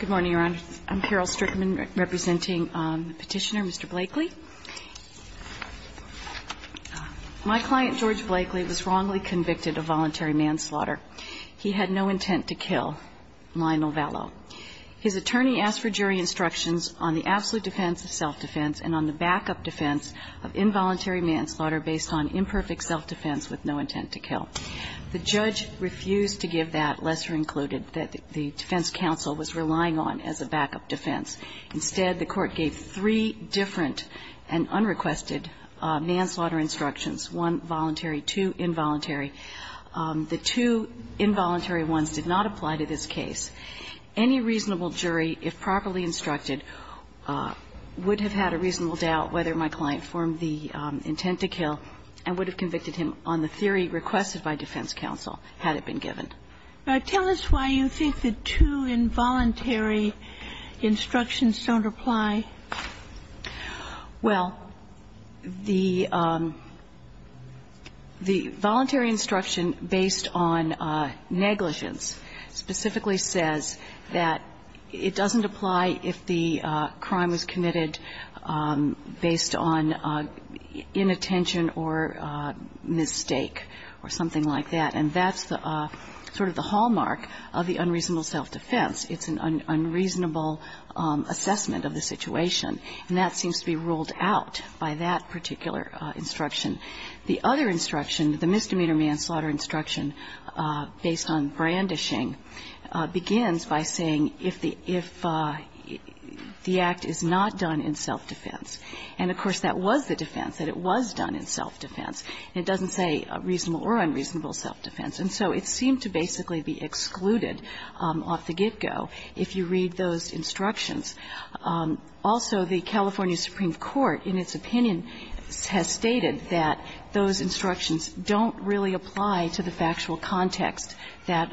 Good morning, Your Honor. I'm Carol Strickman representing Petitioner Mr. Blakeley. My client, George Blakeley, was wrongly convicted of voluntary manslaughter. He had no intent to kill Lionel Vallow. His attorney asked for jury instructions on the absolute defense of self-defense and on the backup defense of involuntary manslaughter based on imperfect self-defense with no intent to kill. The judge refused to give that, lesser included, that the defense counsel was relying on as a backup defense. Instead, the court gave three different and unrequested manslaughter instructions, one voluntary, two involuntary. The two involuntary ones did not apply to this case. Any reasonable jury, if properly instructed, would have had a reasonable doubt whether my client formed the intent to kill and would have convicted him on the theory requested by defense counsel had it been given. Tell us why you think the two involuntary instructions don't apply. Well, the voluntary instruction based on negligence specifically says that it doesn't apply if the crime was committed based on inattention or mistake or something like that. And that's sort of the hallmark of the unreasonable self-defense. It's an unreasonable assessment of the situation. And that seems to be ruled out by that particular instruction. The other instruction, the misdemeanor manslaughter instruction based on brandishing, begins by saying if the act is not done in self-defense. And, of course, that was the defense, that it was done in self-defense. It doesn't say reasonable or unreasonable self-defense. And so it seemed to basically be excluded off the get-go if you read those instructions. Also, the California Supreme Court, in its opinion, has stated that those instructions don't really apply to the factual context that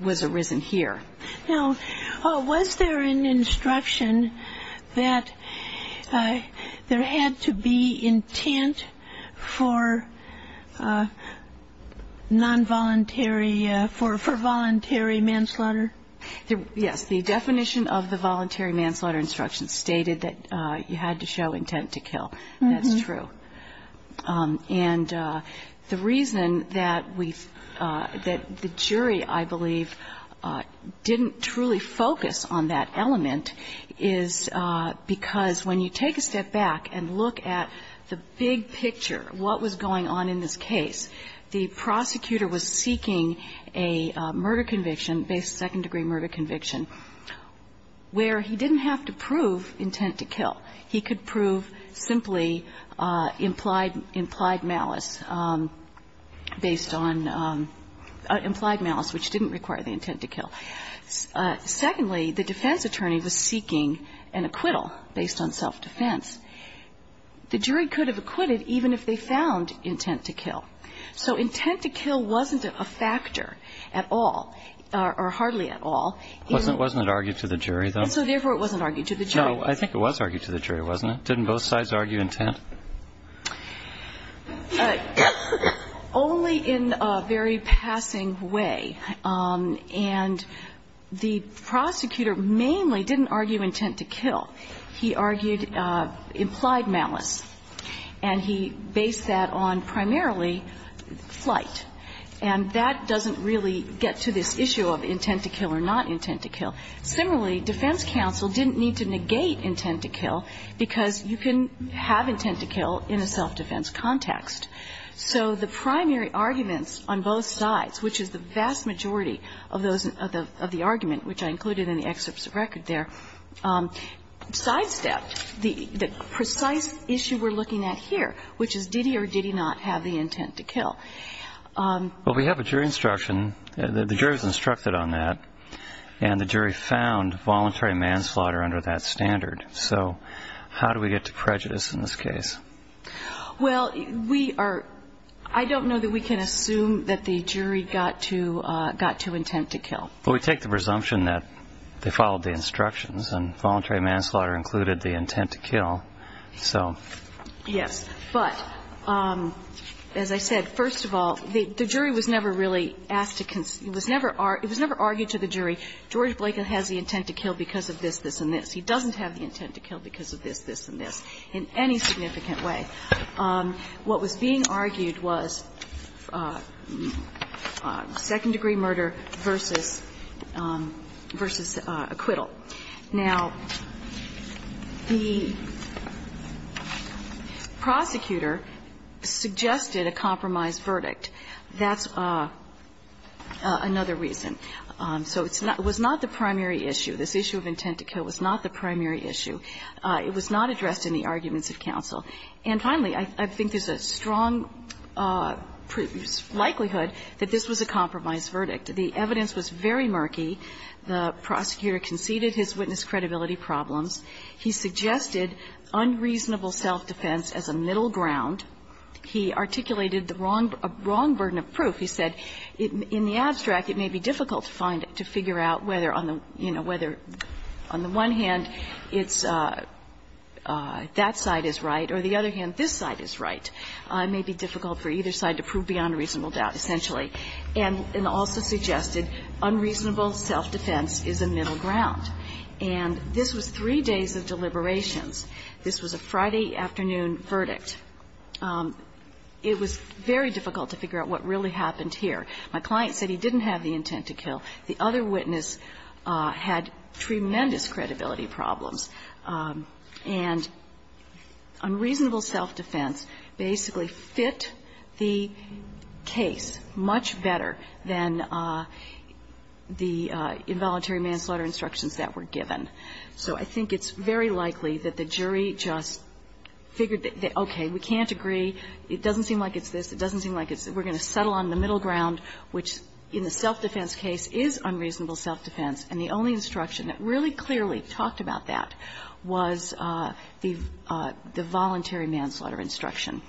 was arisen here. Now, was there an instruction that there had to be intent for nonvoluntary for voluntary manslaughter? Yes. The definition of the voluntary manslaughter instruction stated that you had to show intent to kill. That's true. And the reason that we've – that the jury, I believe, didn't truly focus on that element is because when you take a step back and look at the big picture, what was going on in this case, the prosecutor was seeking a murder conviction, a second degree murder conviction, where he didn't have to prove intent to kill. He could prove simply implied malice based on – implied malice, which didn't require the intent to kill. Secondly, the defense attorney was seeking an acquittal based on self-defense. The jury could have acquitted even if they found intent to kill. So intent to kill wasn't a factor at all, or hardly at all. Wasn't it argued to the jury, though? And so, therefore, it wasn't argued to the jury. No. I think it was argued to the jury, wasn't it? Didn't both sides argue intent? Only in a very passing way. And the prosecutor mainly didn't argue intent to kill. He argued implied malice. And he based that on primarily flight. And that doesn't really get to this issue of intent to kill or not intent to kill. Similarly, defense counsel didn't need to negate intent to kill because you can have intent to kill in a self-defense context. So the primary arguments on both sides, which is the vast majority of the argument, which I included in the excerpts of record there, sidestepped the precise issue we're looking at here, which is, did he or did he not have the intent to kill? Well, we have a jury instruction. The jury was instructed on that. And the jury found voluntary manslaughter under that standard. So how do we get to prejudice in this case? Well, we are – I don't know that we can assume that the jury got to intent to kill. Well, we take the presumption that they followed the instructions and voluntary manslaughter included the intent to kill. So. Yes. But as I said, first of all, the jury was never really asked to – it was never argued to the jury, George Blakin has the intent to kill because of this, this and this. He doesn't have the intent to kill because of this, this and this in any significant way. What was being argued was second-degree murder versus acquittal. Now, the prosecutor suggested a compromise verdict. That's another reason. So it's not – it was not the primary issue. This issue of intent to kill was not the primary issue. It was not addressed in the arguments of counsel. And finally, I think there's a strong likelihood that this was a compromise verdict. The evidence was very murky. The prosecutor conceded his witness credibility problems. He suggested unreasonable self-defense as a middle ground. He articulated the wrong – a wrong burden of proof. He said in the abstract it may be difficult to find – to figure out whether on the – you know, whether on the one hand it's that side is right or the other hand this side is right. It may be difficult for either side to prove beyond reasonable doubt, essentially. And also suggested unreasonable self-defense is a middle ground. And this was three days of deliberations. This was a Friday afternoon verdict. It was very difficult to figure out what really happened here. My client said he didn't have the intent to kill. The other witness had tremendous credibility problems. And unreasonable self-defense basically fit the case much better than the involuntary manslaughter instructions that were given. So I think it's very likely that the jury just figured that, okay, we can't agree. It doesn't seem like it's this. It doesn't seem like it's – we're going to settle on the middle ground, which in the self-defense case is unreasonable self-defense. And the only instruction that really clearly talked about that was the voluntary manslaughter instruction.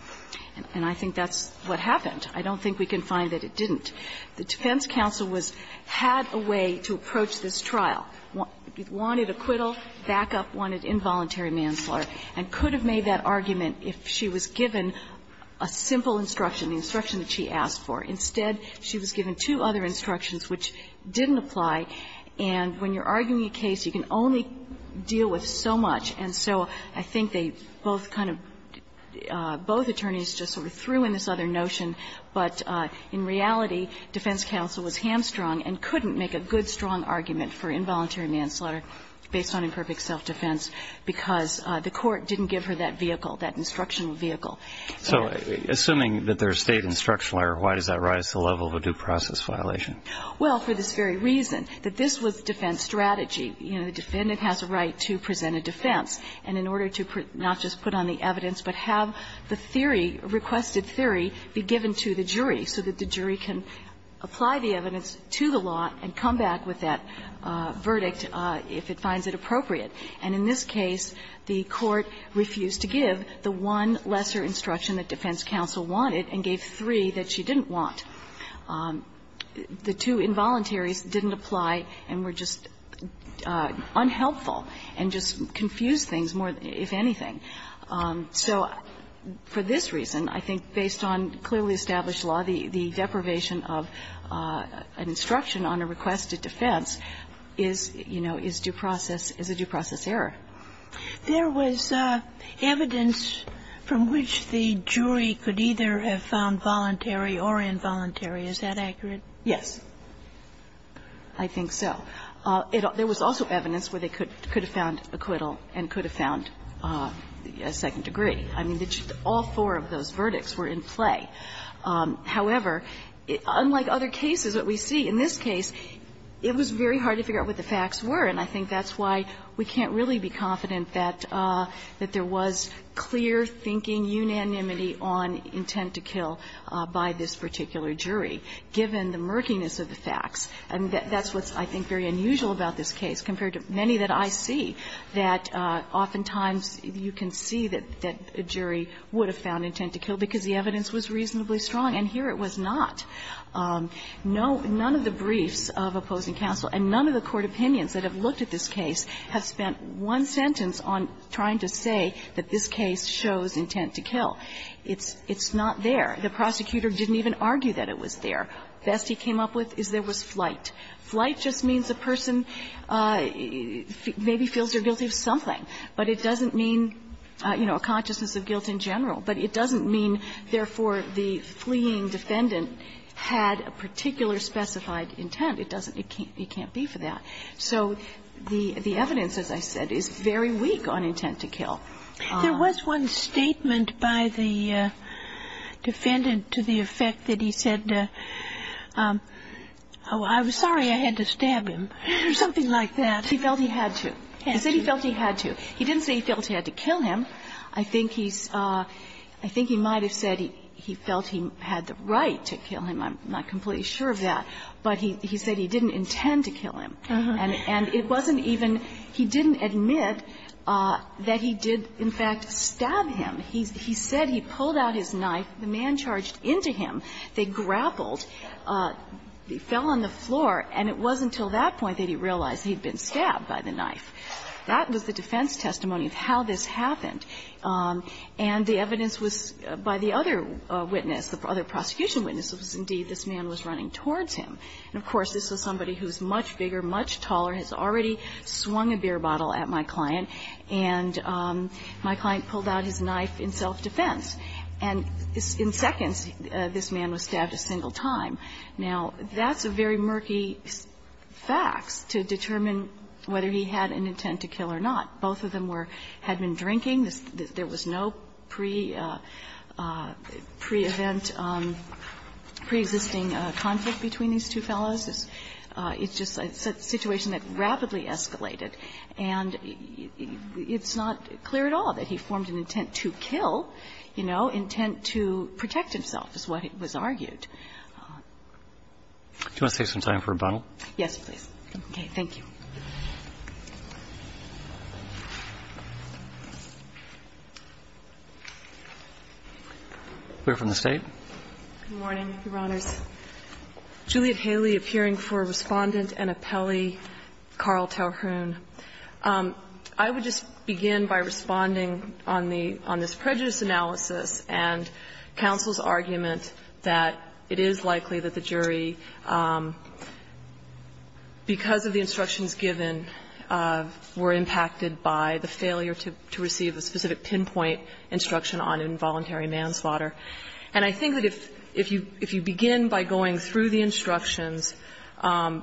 And I think that's what happened. I don't think we can find that it didn't. The defense counsel was – had a way to approach this trial, wanted acquittal, backup, wanted involuntary manslaughter, and could have made that argument if she was given a simple instruction, the instruction that she asked for. Instead, she was given two other instructions which didn't apply. And when you're arguing a case, you can only deal with so much. And so I think they both kind of – both attorneys just sort of threw in this other notion. But in reality, defense counsel was hamstrung and couldn't make a good strong argument for involuntary manslaughter based on imperfect self-defense because the court didn't give her that vehicle, that instructional vehicle. So assuming that there's State instructional error, why does that rise to the level of a due process violation? Well, for this very reason, that this was defense strategy. You know, the defendant has a right to present a defense. And in order to not just put on the evidence but have the theory, requested theory, be given to the jury so that the jury can apply the evidence to the law and come back with that verdict if it finds it appropriate. And in this case, the court refused to give the one lesser instruction that defense counsel wanted and gave three that she didn't want. The two involuntaries didn't apply and were just unhelpful and just confused things more, if anything. So for this reason, I think based on clearly established law, the deprivation of an instruction on a requested defense is, you know, is due process error. There was evidence from which the jury could either have found voluntary or involuntary. Is that accurate? Yes, I think so. There was also evidence where they could have found acquittal and could have found a second degree. I mean, all four of those verdicts were in play. However, unlike other cases, what we see in this case, it was very hard to figure out what the facts were, and I think that's why we can't really be confident that there was clear thinking, unanimity on intent to kill by this particular jury, given the murkiness of the facts. And that's what's, I think, very unusual about this case compared to many that I see, that oftentimes you can see that a jury would have found intent to kill because the evidence was reasonably strong, and here it was not. No, none of the briefs of opposing counsel and none of the court opinions that have looked at this case have spent one sentence on trying to say that this case shows intent to kill. It's not there. The prosecutor didn't even argue that it was there. Best he came up with is there was flight. Flight just means a person maybe feels they're guilty of something, but it doesn't mean, you know, a consciousness of guilt in general, but it doesn't mean, therefore, the fleeing defendant had a particular specified intent. It doesn't ñ it can't be for that. So the evidence, as I said, is very weak on intent to kill. There was one statement by the defendant to the effect that he said, oh, I'm sorry. I had to stab him, or something like that. He felt he had to. He said he felt he had to. He didn't say he felt he had to kill him. I think he's ñ I think he might have said he felt he had the right to kill him. I'm not completely sure of that. But he said he didn't intend to kill him. And it wasn't even ñ he didn't admit that he did, in fact, stab him. He said he pulled out his knife, the man charged into him, they grappled, he fell on the floor, and it wasn't until that point that he realized he'd been stabbed by the knife. That was the defense testimony of how this happened. And the evidence was, by the other witness, the other prosecution witness, was indeed this man was running towards him. And of course, this was somebody who's much bigger, much taller, has already swung a beer bottle at my client, and my client pulled out his knife in self-defense. And in seconds, this man was stabbed a single time. Now, that's a very murky fax to determine whether he had an intent to kill or not. Both of them were ñ had been drinking. There was no pre-event, preexisting conflict between these two fellows. It's just a situation that rapidly escalated. And it's not clear at all that he formed an intent to kill, you know, intent to protect himself is what was argued. Do you want to take some time for rebuttal? Yes, please. Okay. Thank you. We're from the State. Good morning, Your Honors. Juliet Haley, appearing for Respondent and Appellee Carl Talhoun. I would just begin by responding on the ñ on this prejudice analysis and counsel's argument that it is likely that the jury, because of the instructions given, were impacted by the failure to receive a specific pinpoint instruction on involuntary manslaughter. And I think that if you begin by going through the instructions,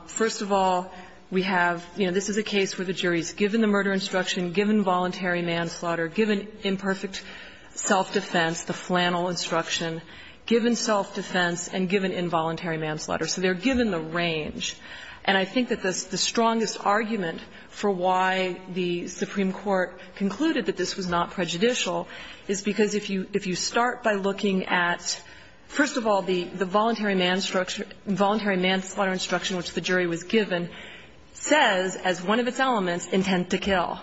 first of all, we have ñ you know, this is a case where the jury's given the murder instruction, given involuntary manslaughter, given imperfect self-defense, the flannel instruction, given self-defense, and given involuntary manslaughter. So they're given the range. And I think that the strongest argument for why the Supreme Court concluded that this was not prejudicial is because if you start by looking at, first of all, the voluntary manslaughter instruction which the jury was given says as one of its elements, intent to kill.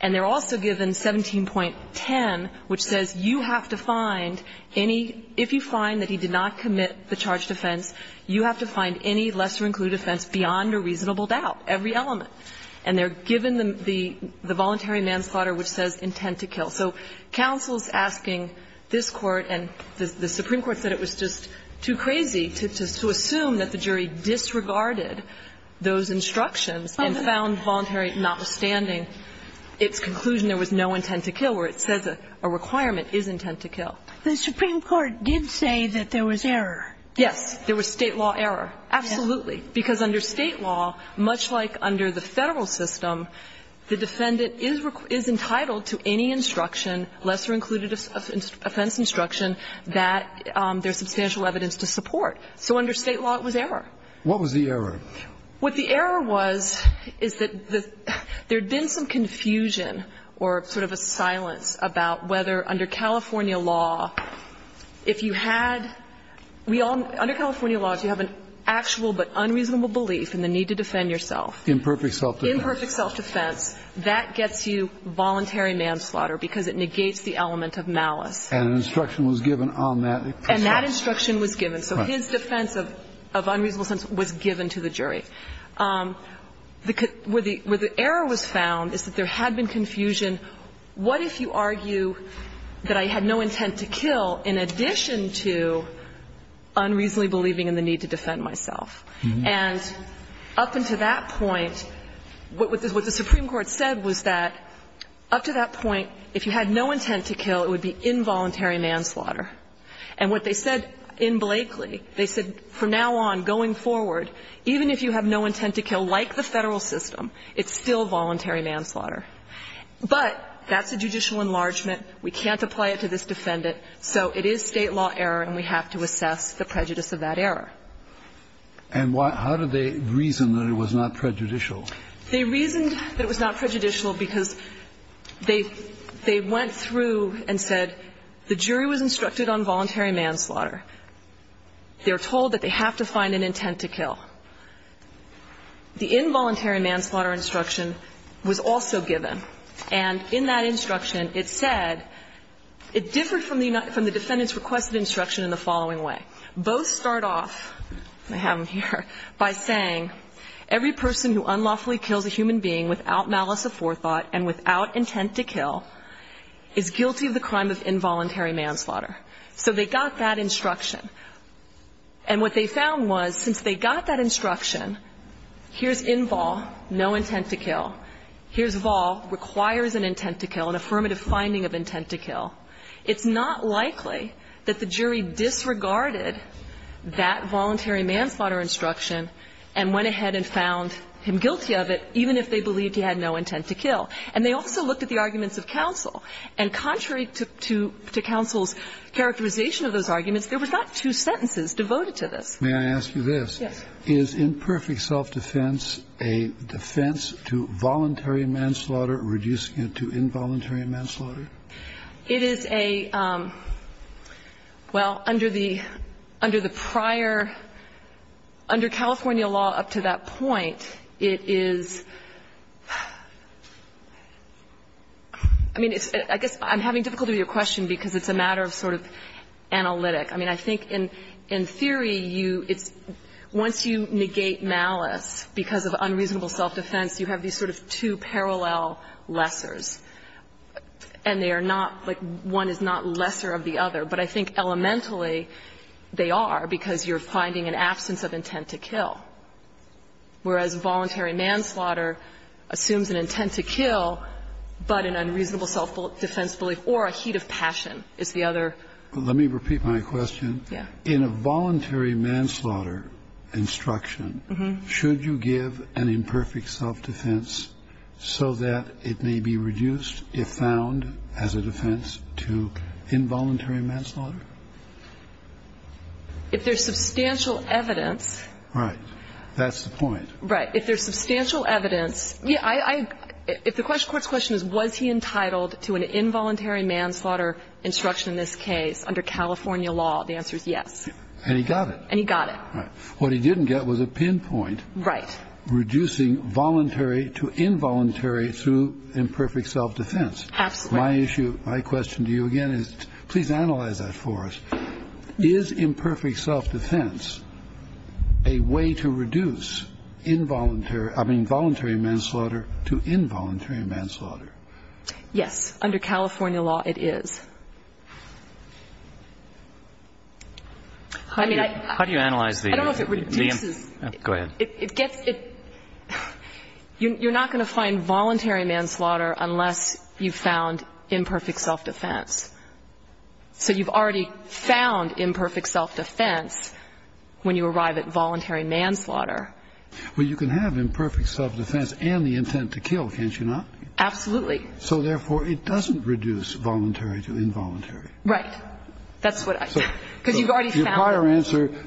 And they're also given 17.10, which says you have to find any ñ if you find that he did not commit the charged offense, you have to find any lesser-included offense beyond a reasonable doubt, every element. And they're given the voluntary manslaughter which says intent to kill. So counsel's asking this Court and the Supreme Court said it was just too crazy to assume that the jury disregarded those instructions and found voluntary notwithstanding its conclusion there was no intent to kill, where it says a requirement is intent to kill. The Supreme Court did say that there was error. Yes. There was state law error. Absolutely. Because under state law, much like under the federal system, the defendant is entitled to any instruction, lesser-included offense instruction, that there's substantial evidence to support. So under state law, it was error. What was the error? What the error was is that there had been some confusion or sort of a silence about whether under California law, if you had ñ we all ñ under California laws, you have an actual but unreasonable belief in the need to defend yourself. Imperfect self-defense. Imperfect self-defense. That gets you voluntary manslaughter because it negates the element of malice. And an instruction was given on that. And that instruction was given. So his defense of unreasonable sense was given to the jury. Where the error was found is that there had been confusion. What if you argue that I had no intent to kill in addition to unreasonably believing in the need to defend myself? And up until that point, what the Supreme Court said was that up to that point, if you had no intent to kill, it would be involuntary manslaughter. And what they said in Blakely, they said, from now on, going forward, even if you have no intent to kill, like the Federal system, it's still voluntary manslaughter. But that's a judicial enlargement. We can't apply it to this defendant. So it is state law error, and we have to assess the prejudice of that error. And why ñ how did they reason that it was not prejudicial? They reasoned that it was not prejudicial because they went through and said, the jury was instructed on voluntary manslaughter. They were told that they have to find an intent to kill. The involuntary manslaughter instruction was also given. And in that instruction, it said ñ it differed from the defendant's requested instruction in the following way. Both start off ñ I have them here ñ by saying, every person who unlawfully kills a human being without malice of forethought and without intent to kill is guilty of the crime of involuntary manslaughter. So they got that instruction. And what they found was, since they got that instruction, here's involóno intent to kill. Here's volórequires an intent to kill, an affirmative finding of intent to kill. It's not likely that the jury disregarded that voluntary manslaughter instruction and went ahead and found him guilty of it, even if they believed he had no intent to kill. And they also looked at the arguments of counsel. And contrary to ñ to counsel's characterization of those arguments, there were not two sentences devoted to this. Kennedy. May I ask you this? Yes. Is imperfect self-defense a defense to voluntary manslaughter, reducing it to involuntary manslaughter? It is a ñ well, under the ñ under the prior ñ under California law up to that point, it is ñ I mean, it's ñ I guess I'm having difficulty with your question because it's a matter of sort of analytic. I mean, I think in ñ in theory, you ñ it's ñ once you negate malice because of unreasonable self-defense, you have these sort of two parallel lessers. And they are not ñ like, one is not lesser of the other. But I think elementally, they are, because you're finding an absence of intent to kill. Whereas voluntary manslaughter assumes an intent to kill, but an unreasonable self-defense belief or a heat of passion is the other ñ Let me repeat my question. Yeah. In a voluntary manslaughter instruction, should you give an imperfect self-defense so that it may be reduced, if found as a defense, to involuntary manslaughter? If there's substantial evidence ñ Right. That's the point. Right. If there's substantial evidence ñ yeah, I ñ if the question ñ the court's question is, was he entitled to an involuntary manslaughter instruction in this case under California law? The answer is yes. And he got it. And he got it. Right. What he didn't get was a pinpoint. Right. Reducing voluntary to involuntary through imperfect self-defense. Absolutely. My issue ñ my question to you, again, is ñ please analyze that for us. Is imperfect self-defense a way to reduce involuntary ñ I mean, voluntary manslaughter to involuntary manslaughter? Yes. Under California law, it is. I mean, I ñ How do you analyze the ñ I don't know if it reduces ñ Go ahead. It gets ñ it ñ you're not going to find voluntary manslaughter unless you've found imperfect self-defense. So you've already found imperfect self-defense when you arrive at voluntary manslaughter. Well, you can have imperfect self-defense and the intent to kill, can't you not? Absolutely. So, therefore, it doesn't reduce voluntary to involuntary. Right. That's what I ñ because you've already found it. Your prior answer ñ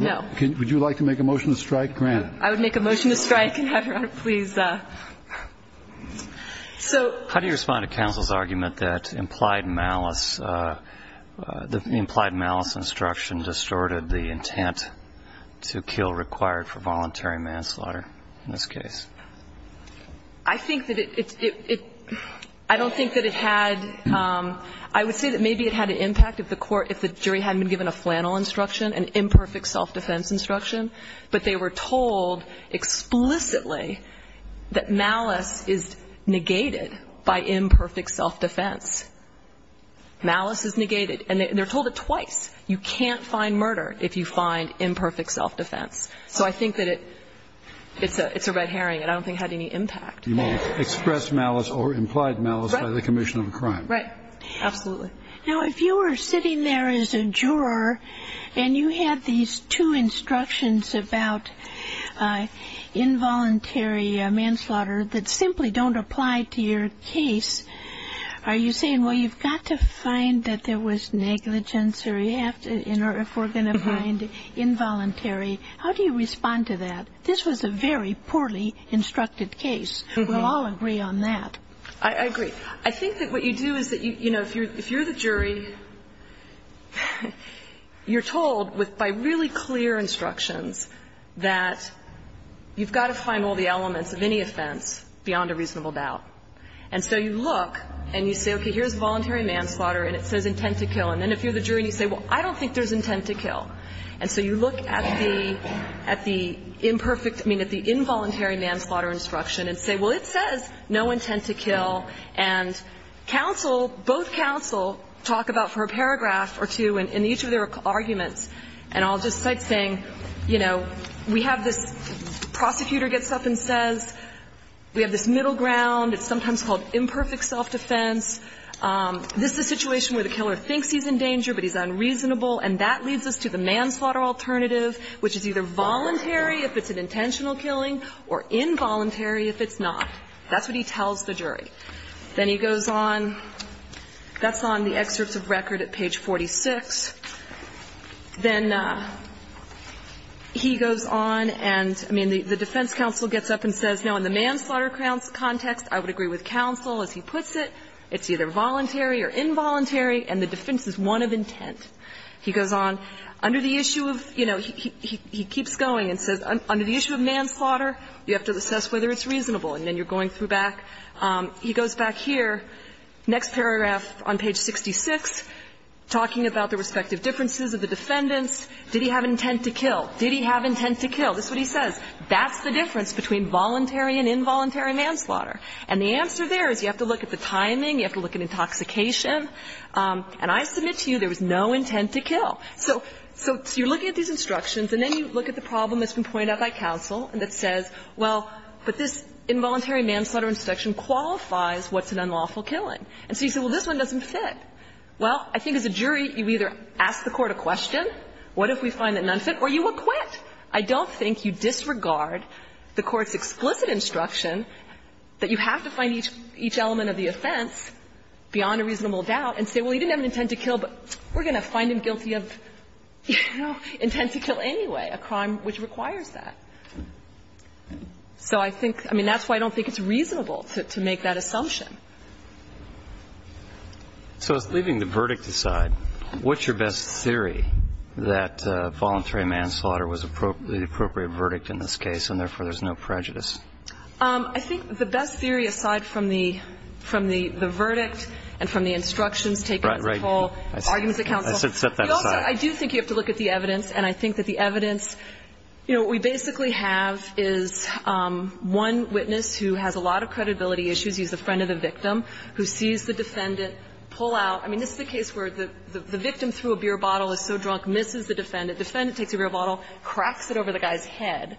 No. Would you like to make a motion to strike, granted? I would make a motion to strike and have Your Honor please ñ so ñ How do you respond to counsel's argument that implied malice ñ the implied malice instruction distorted the intent to kill required for voluntary manslaughter in this case? I think that it ñ I don't think that it had ñ I would say that maybe it had an impact if the jury hadn't been given a flannel instruction, an imperfect self-defense instruction, but they were told explicitly that malice is negated by imperfect self-defense. Malice is negated. And they're told it twice. You can't find murder if you find imperfect self-defense. So I think that it's a red herring, and I don't think it had any impact. You won't express malice or implied malice by the commission of a crime. Right. Absolutely. Now, if you were sitting there as a juror and you had these two instructions about involuntary manslaughter that simply don't apply to your case, are you saying, well, you've got to find that there was negligence or you have to ñ or if we're going to find involuntary, how do you respond to that? This was a very poorly instructed case. We'll all agree on that. I agree. I think that what you do is that, you know, if you're the jury, you're told by really clear instructions that you've got to find all the elements of any offense beyond a reasonable doubt. And so you look and you say, okay, here's voluntary manslaughter and it says intent to kill. And then if you're the jury and you say, well, I don't think there's intent to kill. And so you look at the imperfect ñ I mean, at the involuntary manslaughter instruction and say, well, it says no intent to kill. And counsel, both counsel, talk about for a paragraph or two in each of their arguments, and I'll just cite saying, you know, we have this prosecutor gets up and says, we have this middle ground. It's sometimes called imperfect self-defense. This is a situation where the killer thinks he's in danger but he's unreasonable and that leads us to the manslaughter alternative, which is either voluntary if it's an intentional killing or involuntary if it's not. That's what he tells the jury. Then he goes on ñ that's on the excerpts of record at page 46. Then he goes on and, I mean, the defense counsel gets up and says, no, in the manslaughter context, I would agree with counsel as he puts it. It's either voluntary or involuntary, and the defense is one of intent. He goes on. Under the issue of, you know, he keeps going and says, under the issue of manslaughter, you have to assess whether it's reasonable. And then you're going through back. He goes back here, next paragraph on page 66, talking about the respective differences of the defendants. Did he have intent to kill? Did he have intent to kill? That's what he says. That's the difference between voluntary and involuntary manslaughter. And the answer there is you have to look at the timing, you have to look at intoxication. And I submit to you there was no intent to kill. So you're looking at these instructions, and then you look at the problem that's been pointed out by counsel that says, well, but this involuntary manslaughter instruction qualifies what's an unlawful killing. And so you say, well, this one doesn't fit. Well, I think as a jury, you either ask the court a question, what if we find it an unfit, or you acquit. I don't think you disregard the court's explicit instruction that you have to find each element of the offense beyond a reasonable doubt and say, well, he didn't have an intent to kill, but we're going to find him guilty of, you know, intent to kill anyway, a crime which requires that. So I think, I mean, that's why I don't think it's reasonable to make that assumption. So leaving the verdict aside, what's your best theory that voluntary manslaughter was the appropriate verdict in this case, and therefore there's no prejudice? I think the best theory aside from the verdict and from the instructions taken as a whole, arguments at counsel. Right. I should set that aside. I do think you have to look at the evidence. And I think that the evidence, you know, we basically have is one witness who has a lot of credibility issues. He's a friend of the victim who sees the defendant pull out. I mean, this is the case where the victim threw a beer bottle, is so drunk, misses the defendant. The defendant takes a beer bottle, cracks it over the guy's head.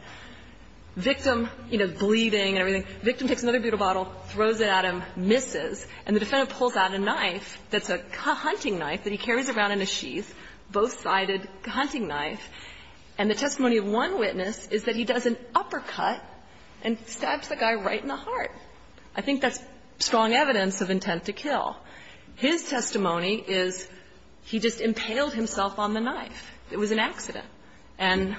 Victim, you know, bleeding and everything. Victim takes another beer bottle, throws it at him, misses. And the defendant pulls out a knife that's a hunting knife that he carries around in a sheath, both-sided hunting knife. And the testimony of one witness is that he does an uppercut and stabs the guy right in the heart. I think that's strong evidence of intent to kill. His testimony is he just impaled himself on the knife. It was an accident. And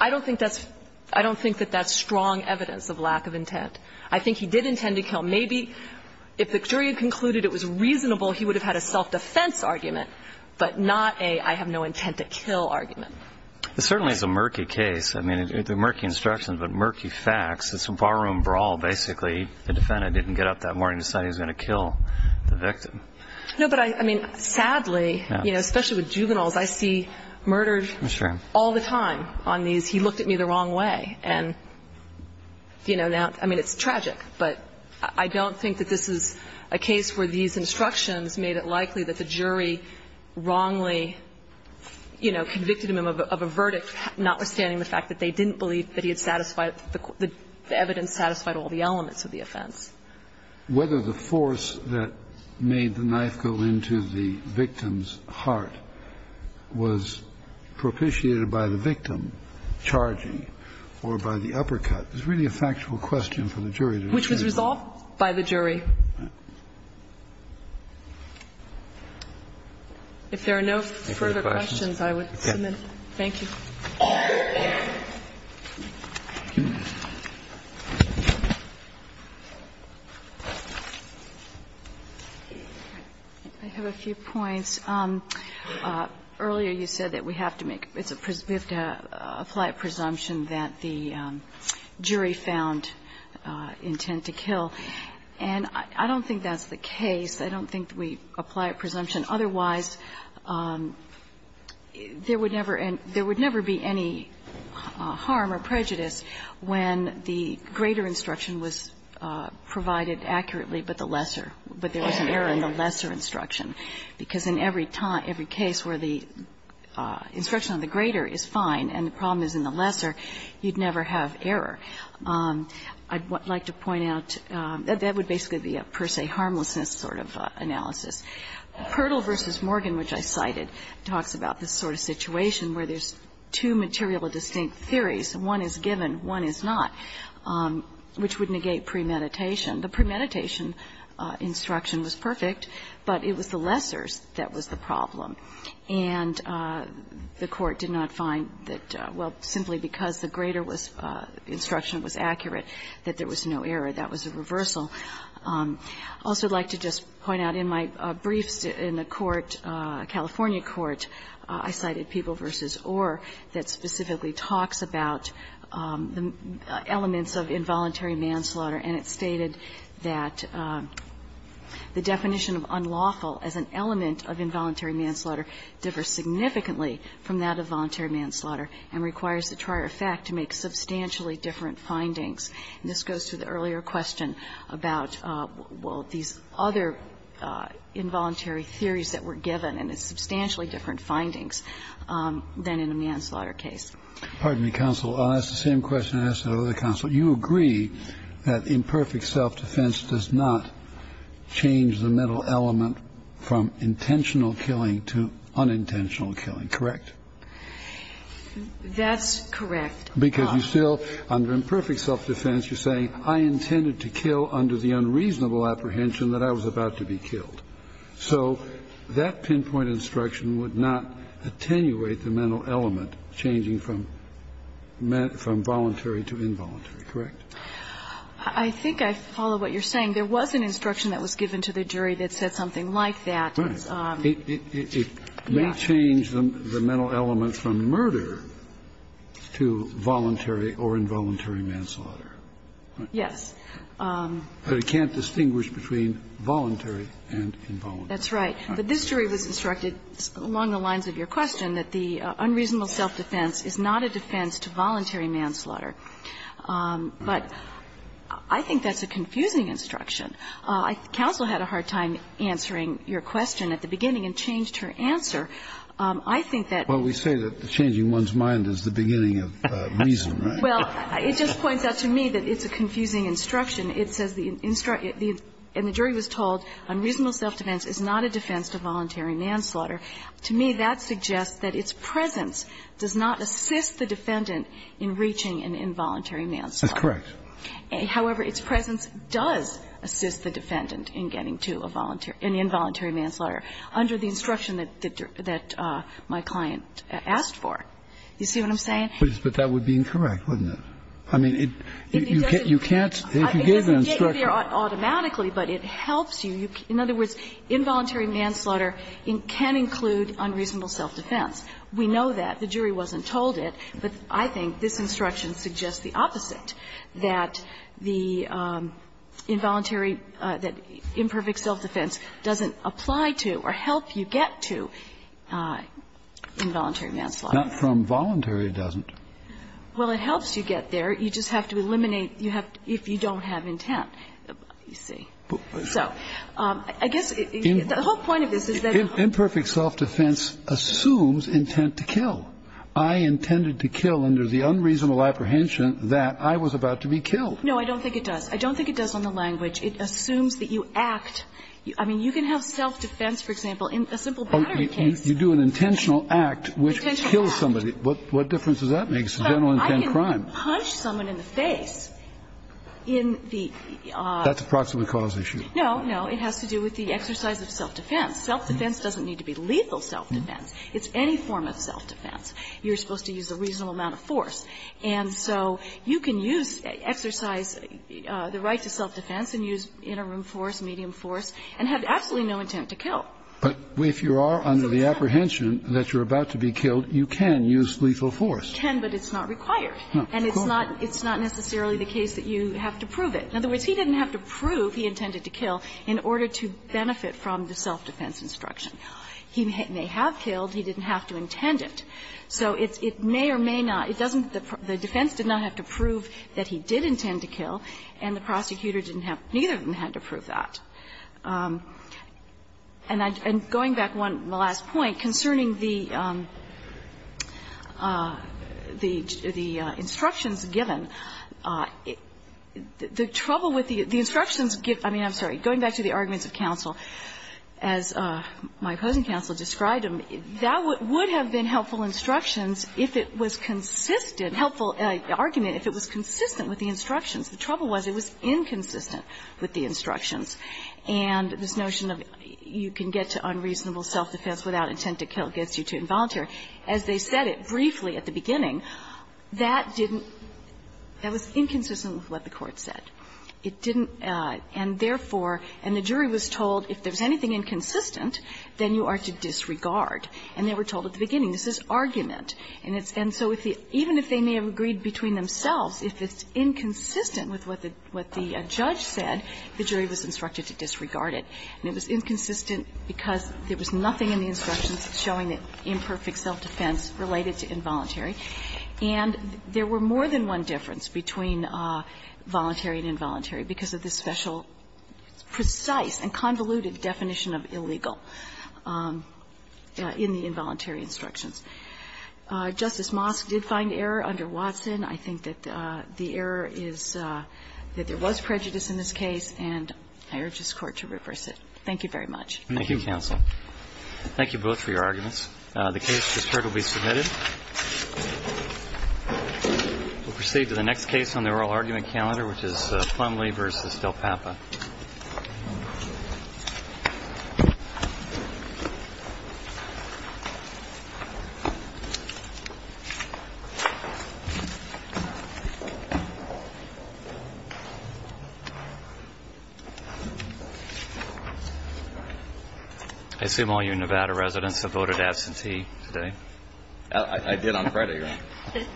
I don't think that's strong evidence of lack of intent. I think he did intend to kill. Maybe if the jury had concluded it was reasonable, he would have had a self-defense argument, but not a I have no intent to kill argument. It certainly is a murky case. I mean, the murky instructions, but murky facts. It's a barroom brawl. Basically, the defendant didn't get up that morning to decide he was going to kill the victim. No, but I mean, sadly, you know, especially with juveniles, I see murdered all the time on these. He looked at me the wrong way. And, you know, now, I mean, it's tragic, but I don't think that this is a case where these instructions made it likely that the jury wrongly, you know, convicted him of a verdict, notwithstanding the fact that they didn't believe that he had satisfied the evidence, satisfied all the elements of the offense. Kennedy, whether the force that made the knife go into the victim's heart was propitiated by the victim charging or by the uppercut is really a factual question for the jury to determine. Which was resolved by the jury. If there are no further questions, I would submit. Thank you. I have a few points. Earlier, you said that we have to make the presumption that the jury found intent to kill, and I don't think that's the case. I don't think we apply a presumption. Otherwise, there would never be any harm or prejudice when the greater instruction was provided accurately, but the lesser. But there was an error in the lesser instruction. Because in every case where the instruction on the greater is fine and the problem is in the lesser, you'd never have error. I'd like to point out, that would basically be a per se harmlessness sort of analysis. Pirtle v. Morgan, which I cited, talks about this sort of situation where there's two material distinct theories. One is given, one is not, which would negate premeditation. The premeditation instruction was perfect, but it was the lessors that was the problem. And the Court did not find that, well, simply because the greater instruction was accurate, that there was no error. That was a reversal. I also would like to just point out in my briefs in the Court, California Court, I cited People v. Orr, that specifically talks about the elements of involuntary manslaughter, and it stated that the definition of unlawful as an element of involuntary manslaughter differs significantly from that of voluntary manslaughter and requires the trier effect to make substantially different findings. And this goes to the earlier question about, well, these other involuntary theories that were given, and it's substantially different findings than in a manslaughter case. Kennedy. Pardon me, counsel. I'll ask the same question I asked the other counsel. You agree that imperfect self-defense does not change the mental element from intentional killing to unintentional killing, correct? That's correct. Because you still, under imperfect self-defense, you're saying, I intended to kill under the unreasonable apprehension that I was about to be killed. So that pinpoint instruction would not attenuate the mental element changing from voluntary to involuntary, correct? I think I follow what you're saying. There was an instruction that was given to the jury that said something like that. It may change the mental element from murder to voluntary or involuntary manslaughter. Yes. But it can't distinguish between voluntary and involuntary. That's right. But this jury was instructed, along the lines of your question, that the unreasonable self-defense is not a defense to voluntary manslaughter. But I think that's a confusing instruction. Counsel had a hard time answering your question at the beginning and changed her answer. I think that we say that changing one's mind is the beginning of reason. Well, it just points out to me that it's a confusing instruction. It says the jury was told unreasonable self-defense is not a defense to voluntary manslaughter. To me, that suggests that its presence does not assist the defendant in reaching an involuntary manslaughter. That's correct. However, its presence does assist the defendant in getting to a involuntary manslaughter under the instruction that my client asked for. You see what I'm saying? But that would be incorrect, wouldn't it? I mean, you can't, if you give an instruction. It doesn't get you there automatically, but it helps you. In other words, involuntary manslaughter can include unreasonable self-defense. We know that. The jury wasn't told it. But I think this instruction suggests the opposite, that the involuntary that imperfect self-defense doesn't apply to or help you get to involuntary manslaughter. Not from voluntary, it doesn't. Well, it helps you get there. You just have to eliminate, you have to, if you don't have intent, you see. So I guess the whole point of this is that imperfect self-defense assumes intent to kill. I intended to kill under the unreasonable apprehension that I was about to be killed. No, I don't think it does. I don't think it does on the language. It assumes that you act. I mean, you can have self-defense, for example, in a simple battery case. Oh, you do an intentional act, which kills somebody. Intentional act. What difference does that make? It's a general intent crime. But I can punch someone in the face in the... That's a proximate cause issue. No, no. It has to do with the exercise of self-defense. Self-defense doesn't need to be lethal self-defense. It's any form of self-defense. You're supposed to use a reasonable amount of force. And so you can use, exercise the right to self-defense and use interim force, medium force, and have absolutely no intent to kill. But if you are under the apprehension that you're about to be killed, you can use lethal force. You can, but it's not required. And it's not necessarily the case that you have to prove it. In other words, he didn't have to prove he intended to kill in order to benefit from the self-defense instruction. He may have killed. He didn't have to intend it. So it may or may not. It doesn't the defense did not have to prove that he did intend to kill, and the prosecutor didn't have, neither of them had to prove that. And I'm going back one last point concerning the instructions given. The trouble with the instructions given, I mean, I'm sorry, going back to the arguments of counsel, as my opposing counsel described them, that would have been helpful instructions if it was consistent, helpful argument if it was consistent with the instructions. The trouble was it was inconsistent with the instructions. And this notion of you can get to unreasonable self-defense without intent to kill gets you to involuntary. As they said it briefly at the beginning, that didn't, that was inconsistent with what the Court said. It didn't, and therefore, and the jury was told if there's anything inconsistent, then you are to disregard. And they were told at the beginning, this is argument. And it's, and so even if they may have agreed between themselves, if it's inconsistent with what the judge said, the jury was instructed to disregard it. And it was inconsistent because there was nothing in the instructions showing that imperfect self-defense related to involuntary. And there were more than one difference between voluntary and involuntary because of this special, precise and convoluted definition of illegal in the involuntary instructions. Justice Mosk did find error under Watson. I think that the error is that there was prejudice in this case, and I urge this Court to reverse it. Thank you very much. Thank you, counsel. Thank you both for your arguments. The case is currently submitted. We'll proceed to the next case on the oral argument calendar, which is Plumlee v. Del Papa. I assume all you Nevada residents have voted absentee today. I did on Friday, right?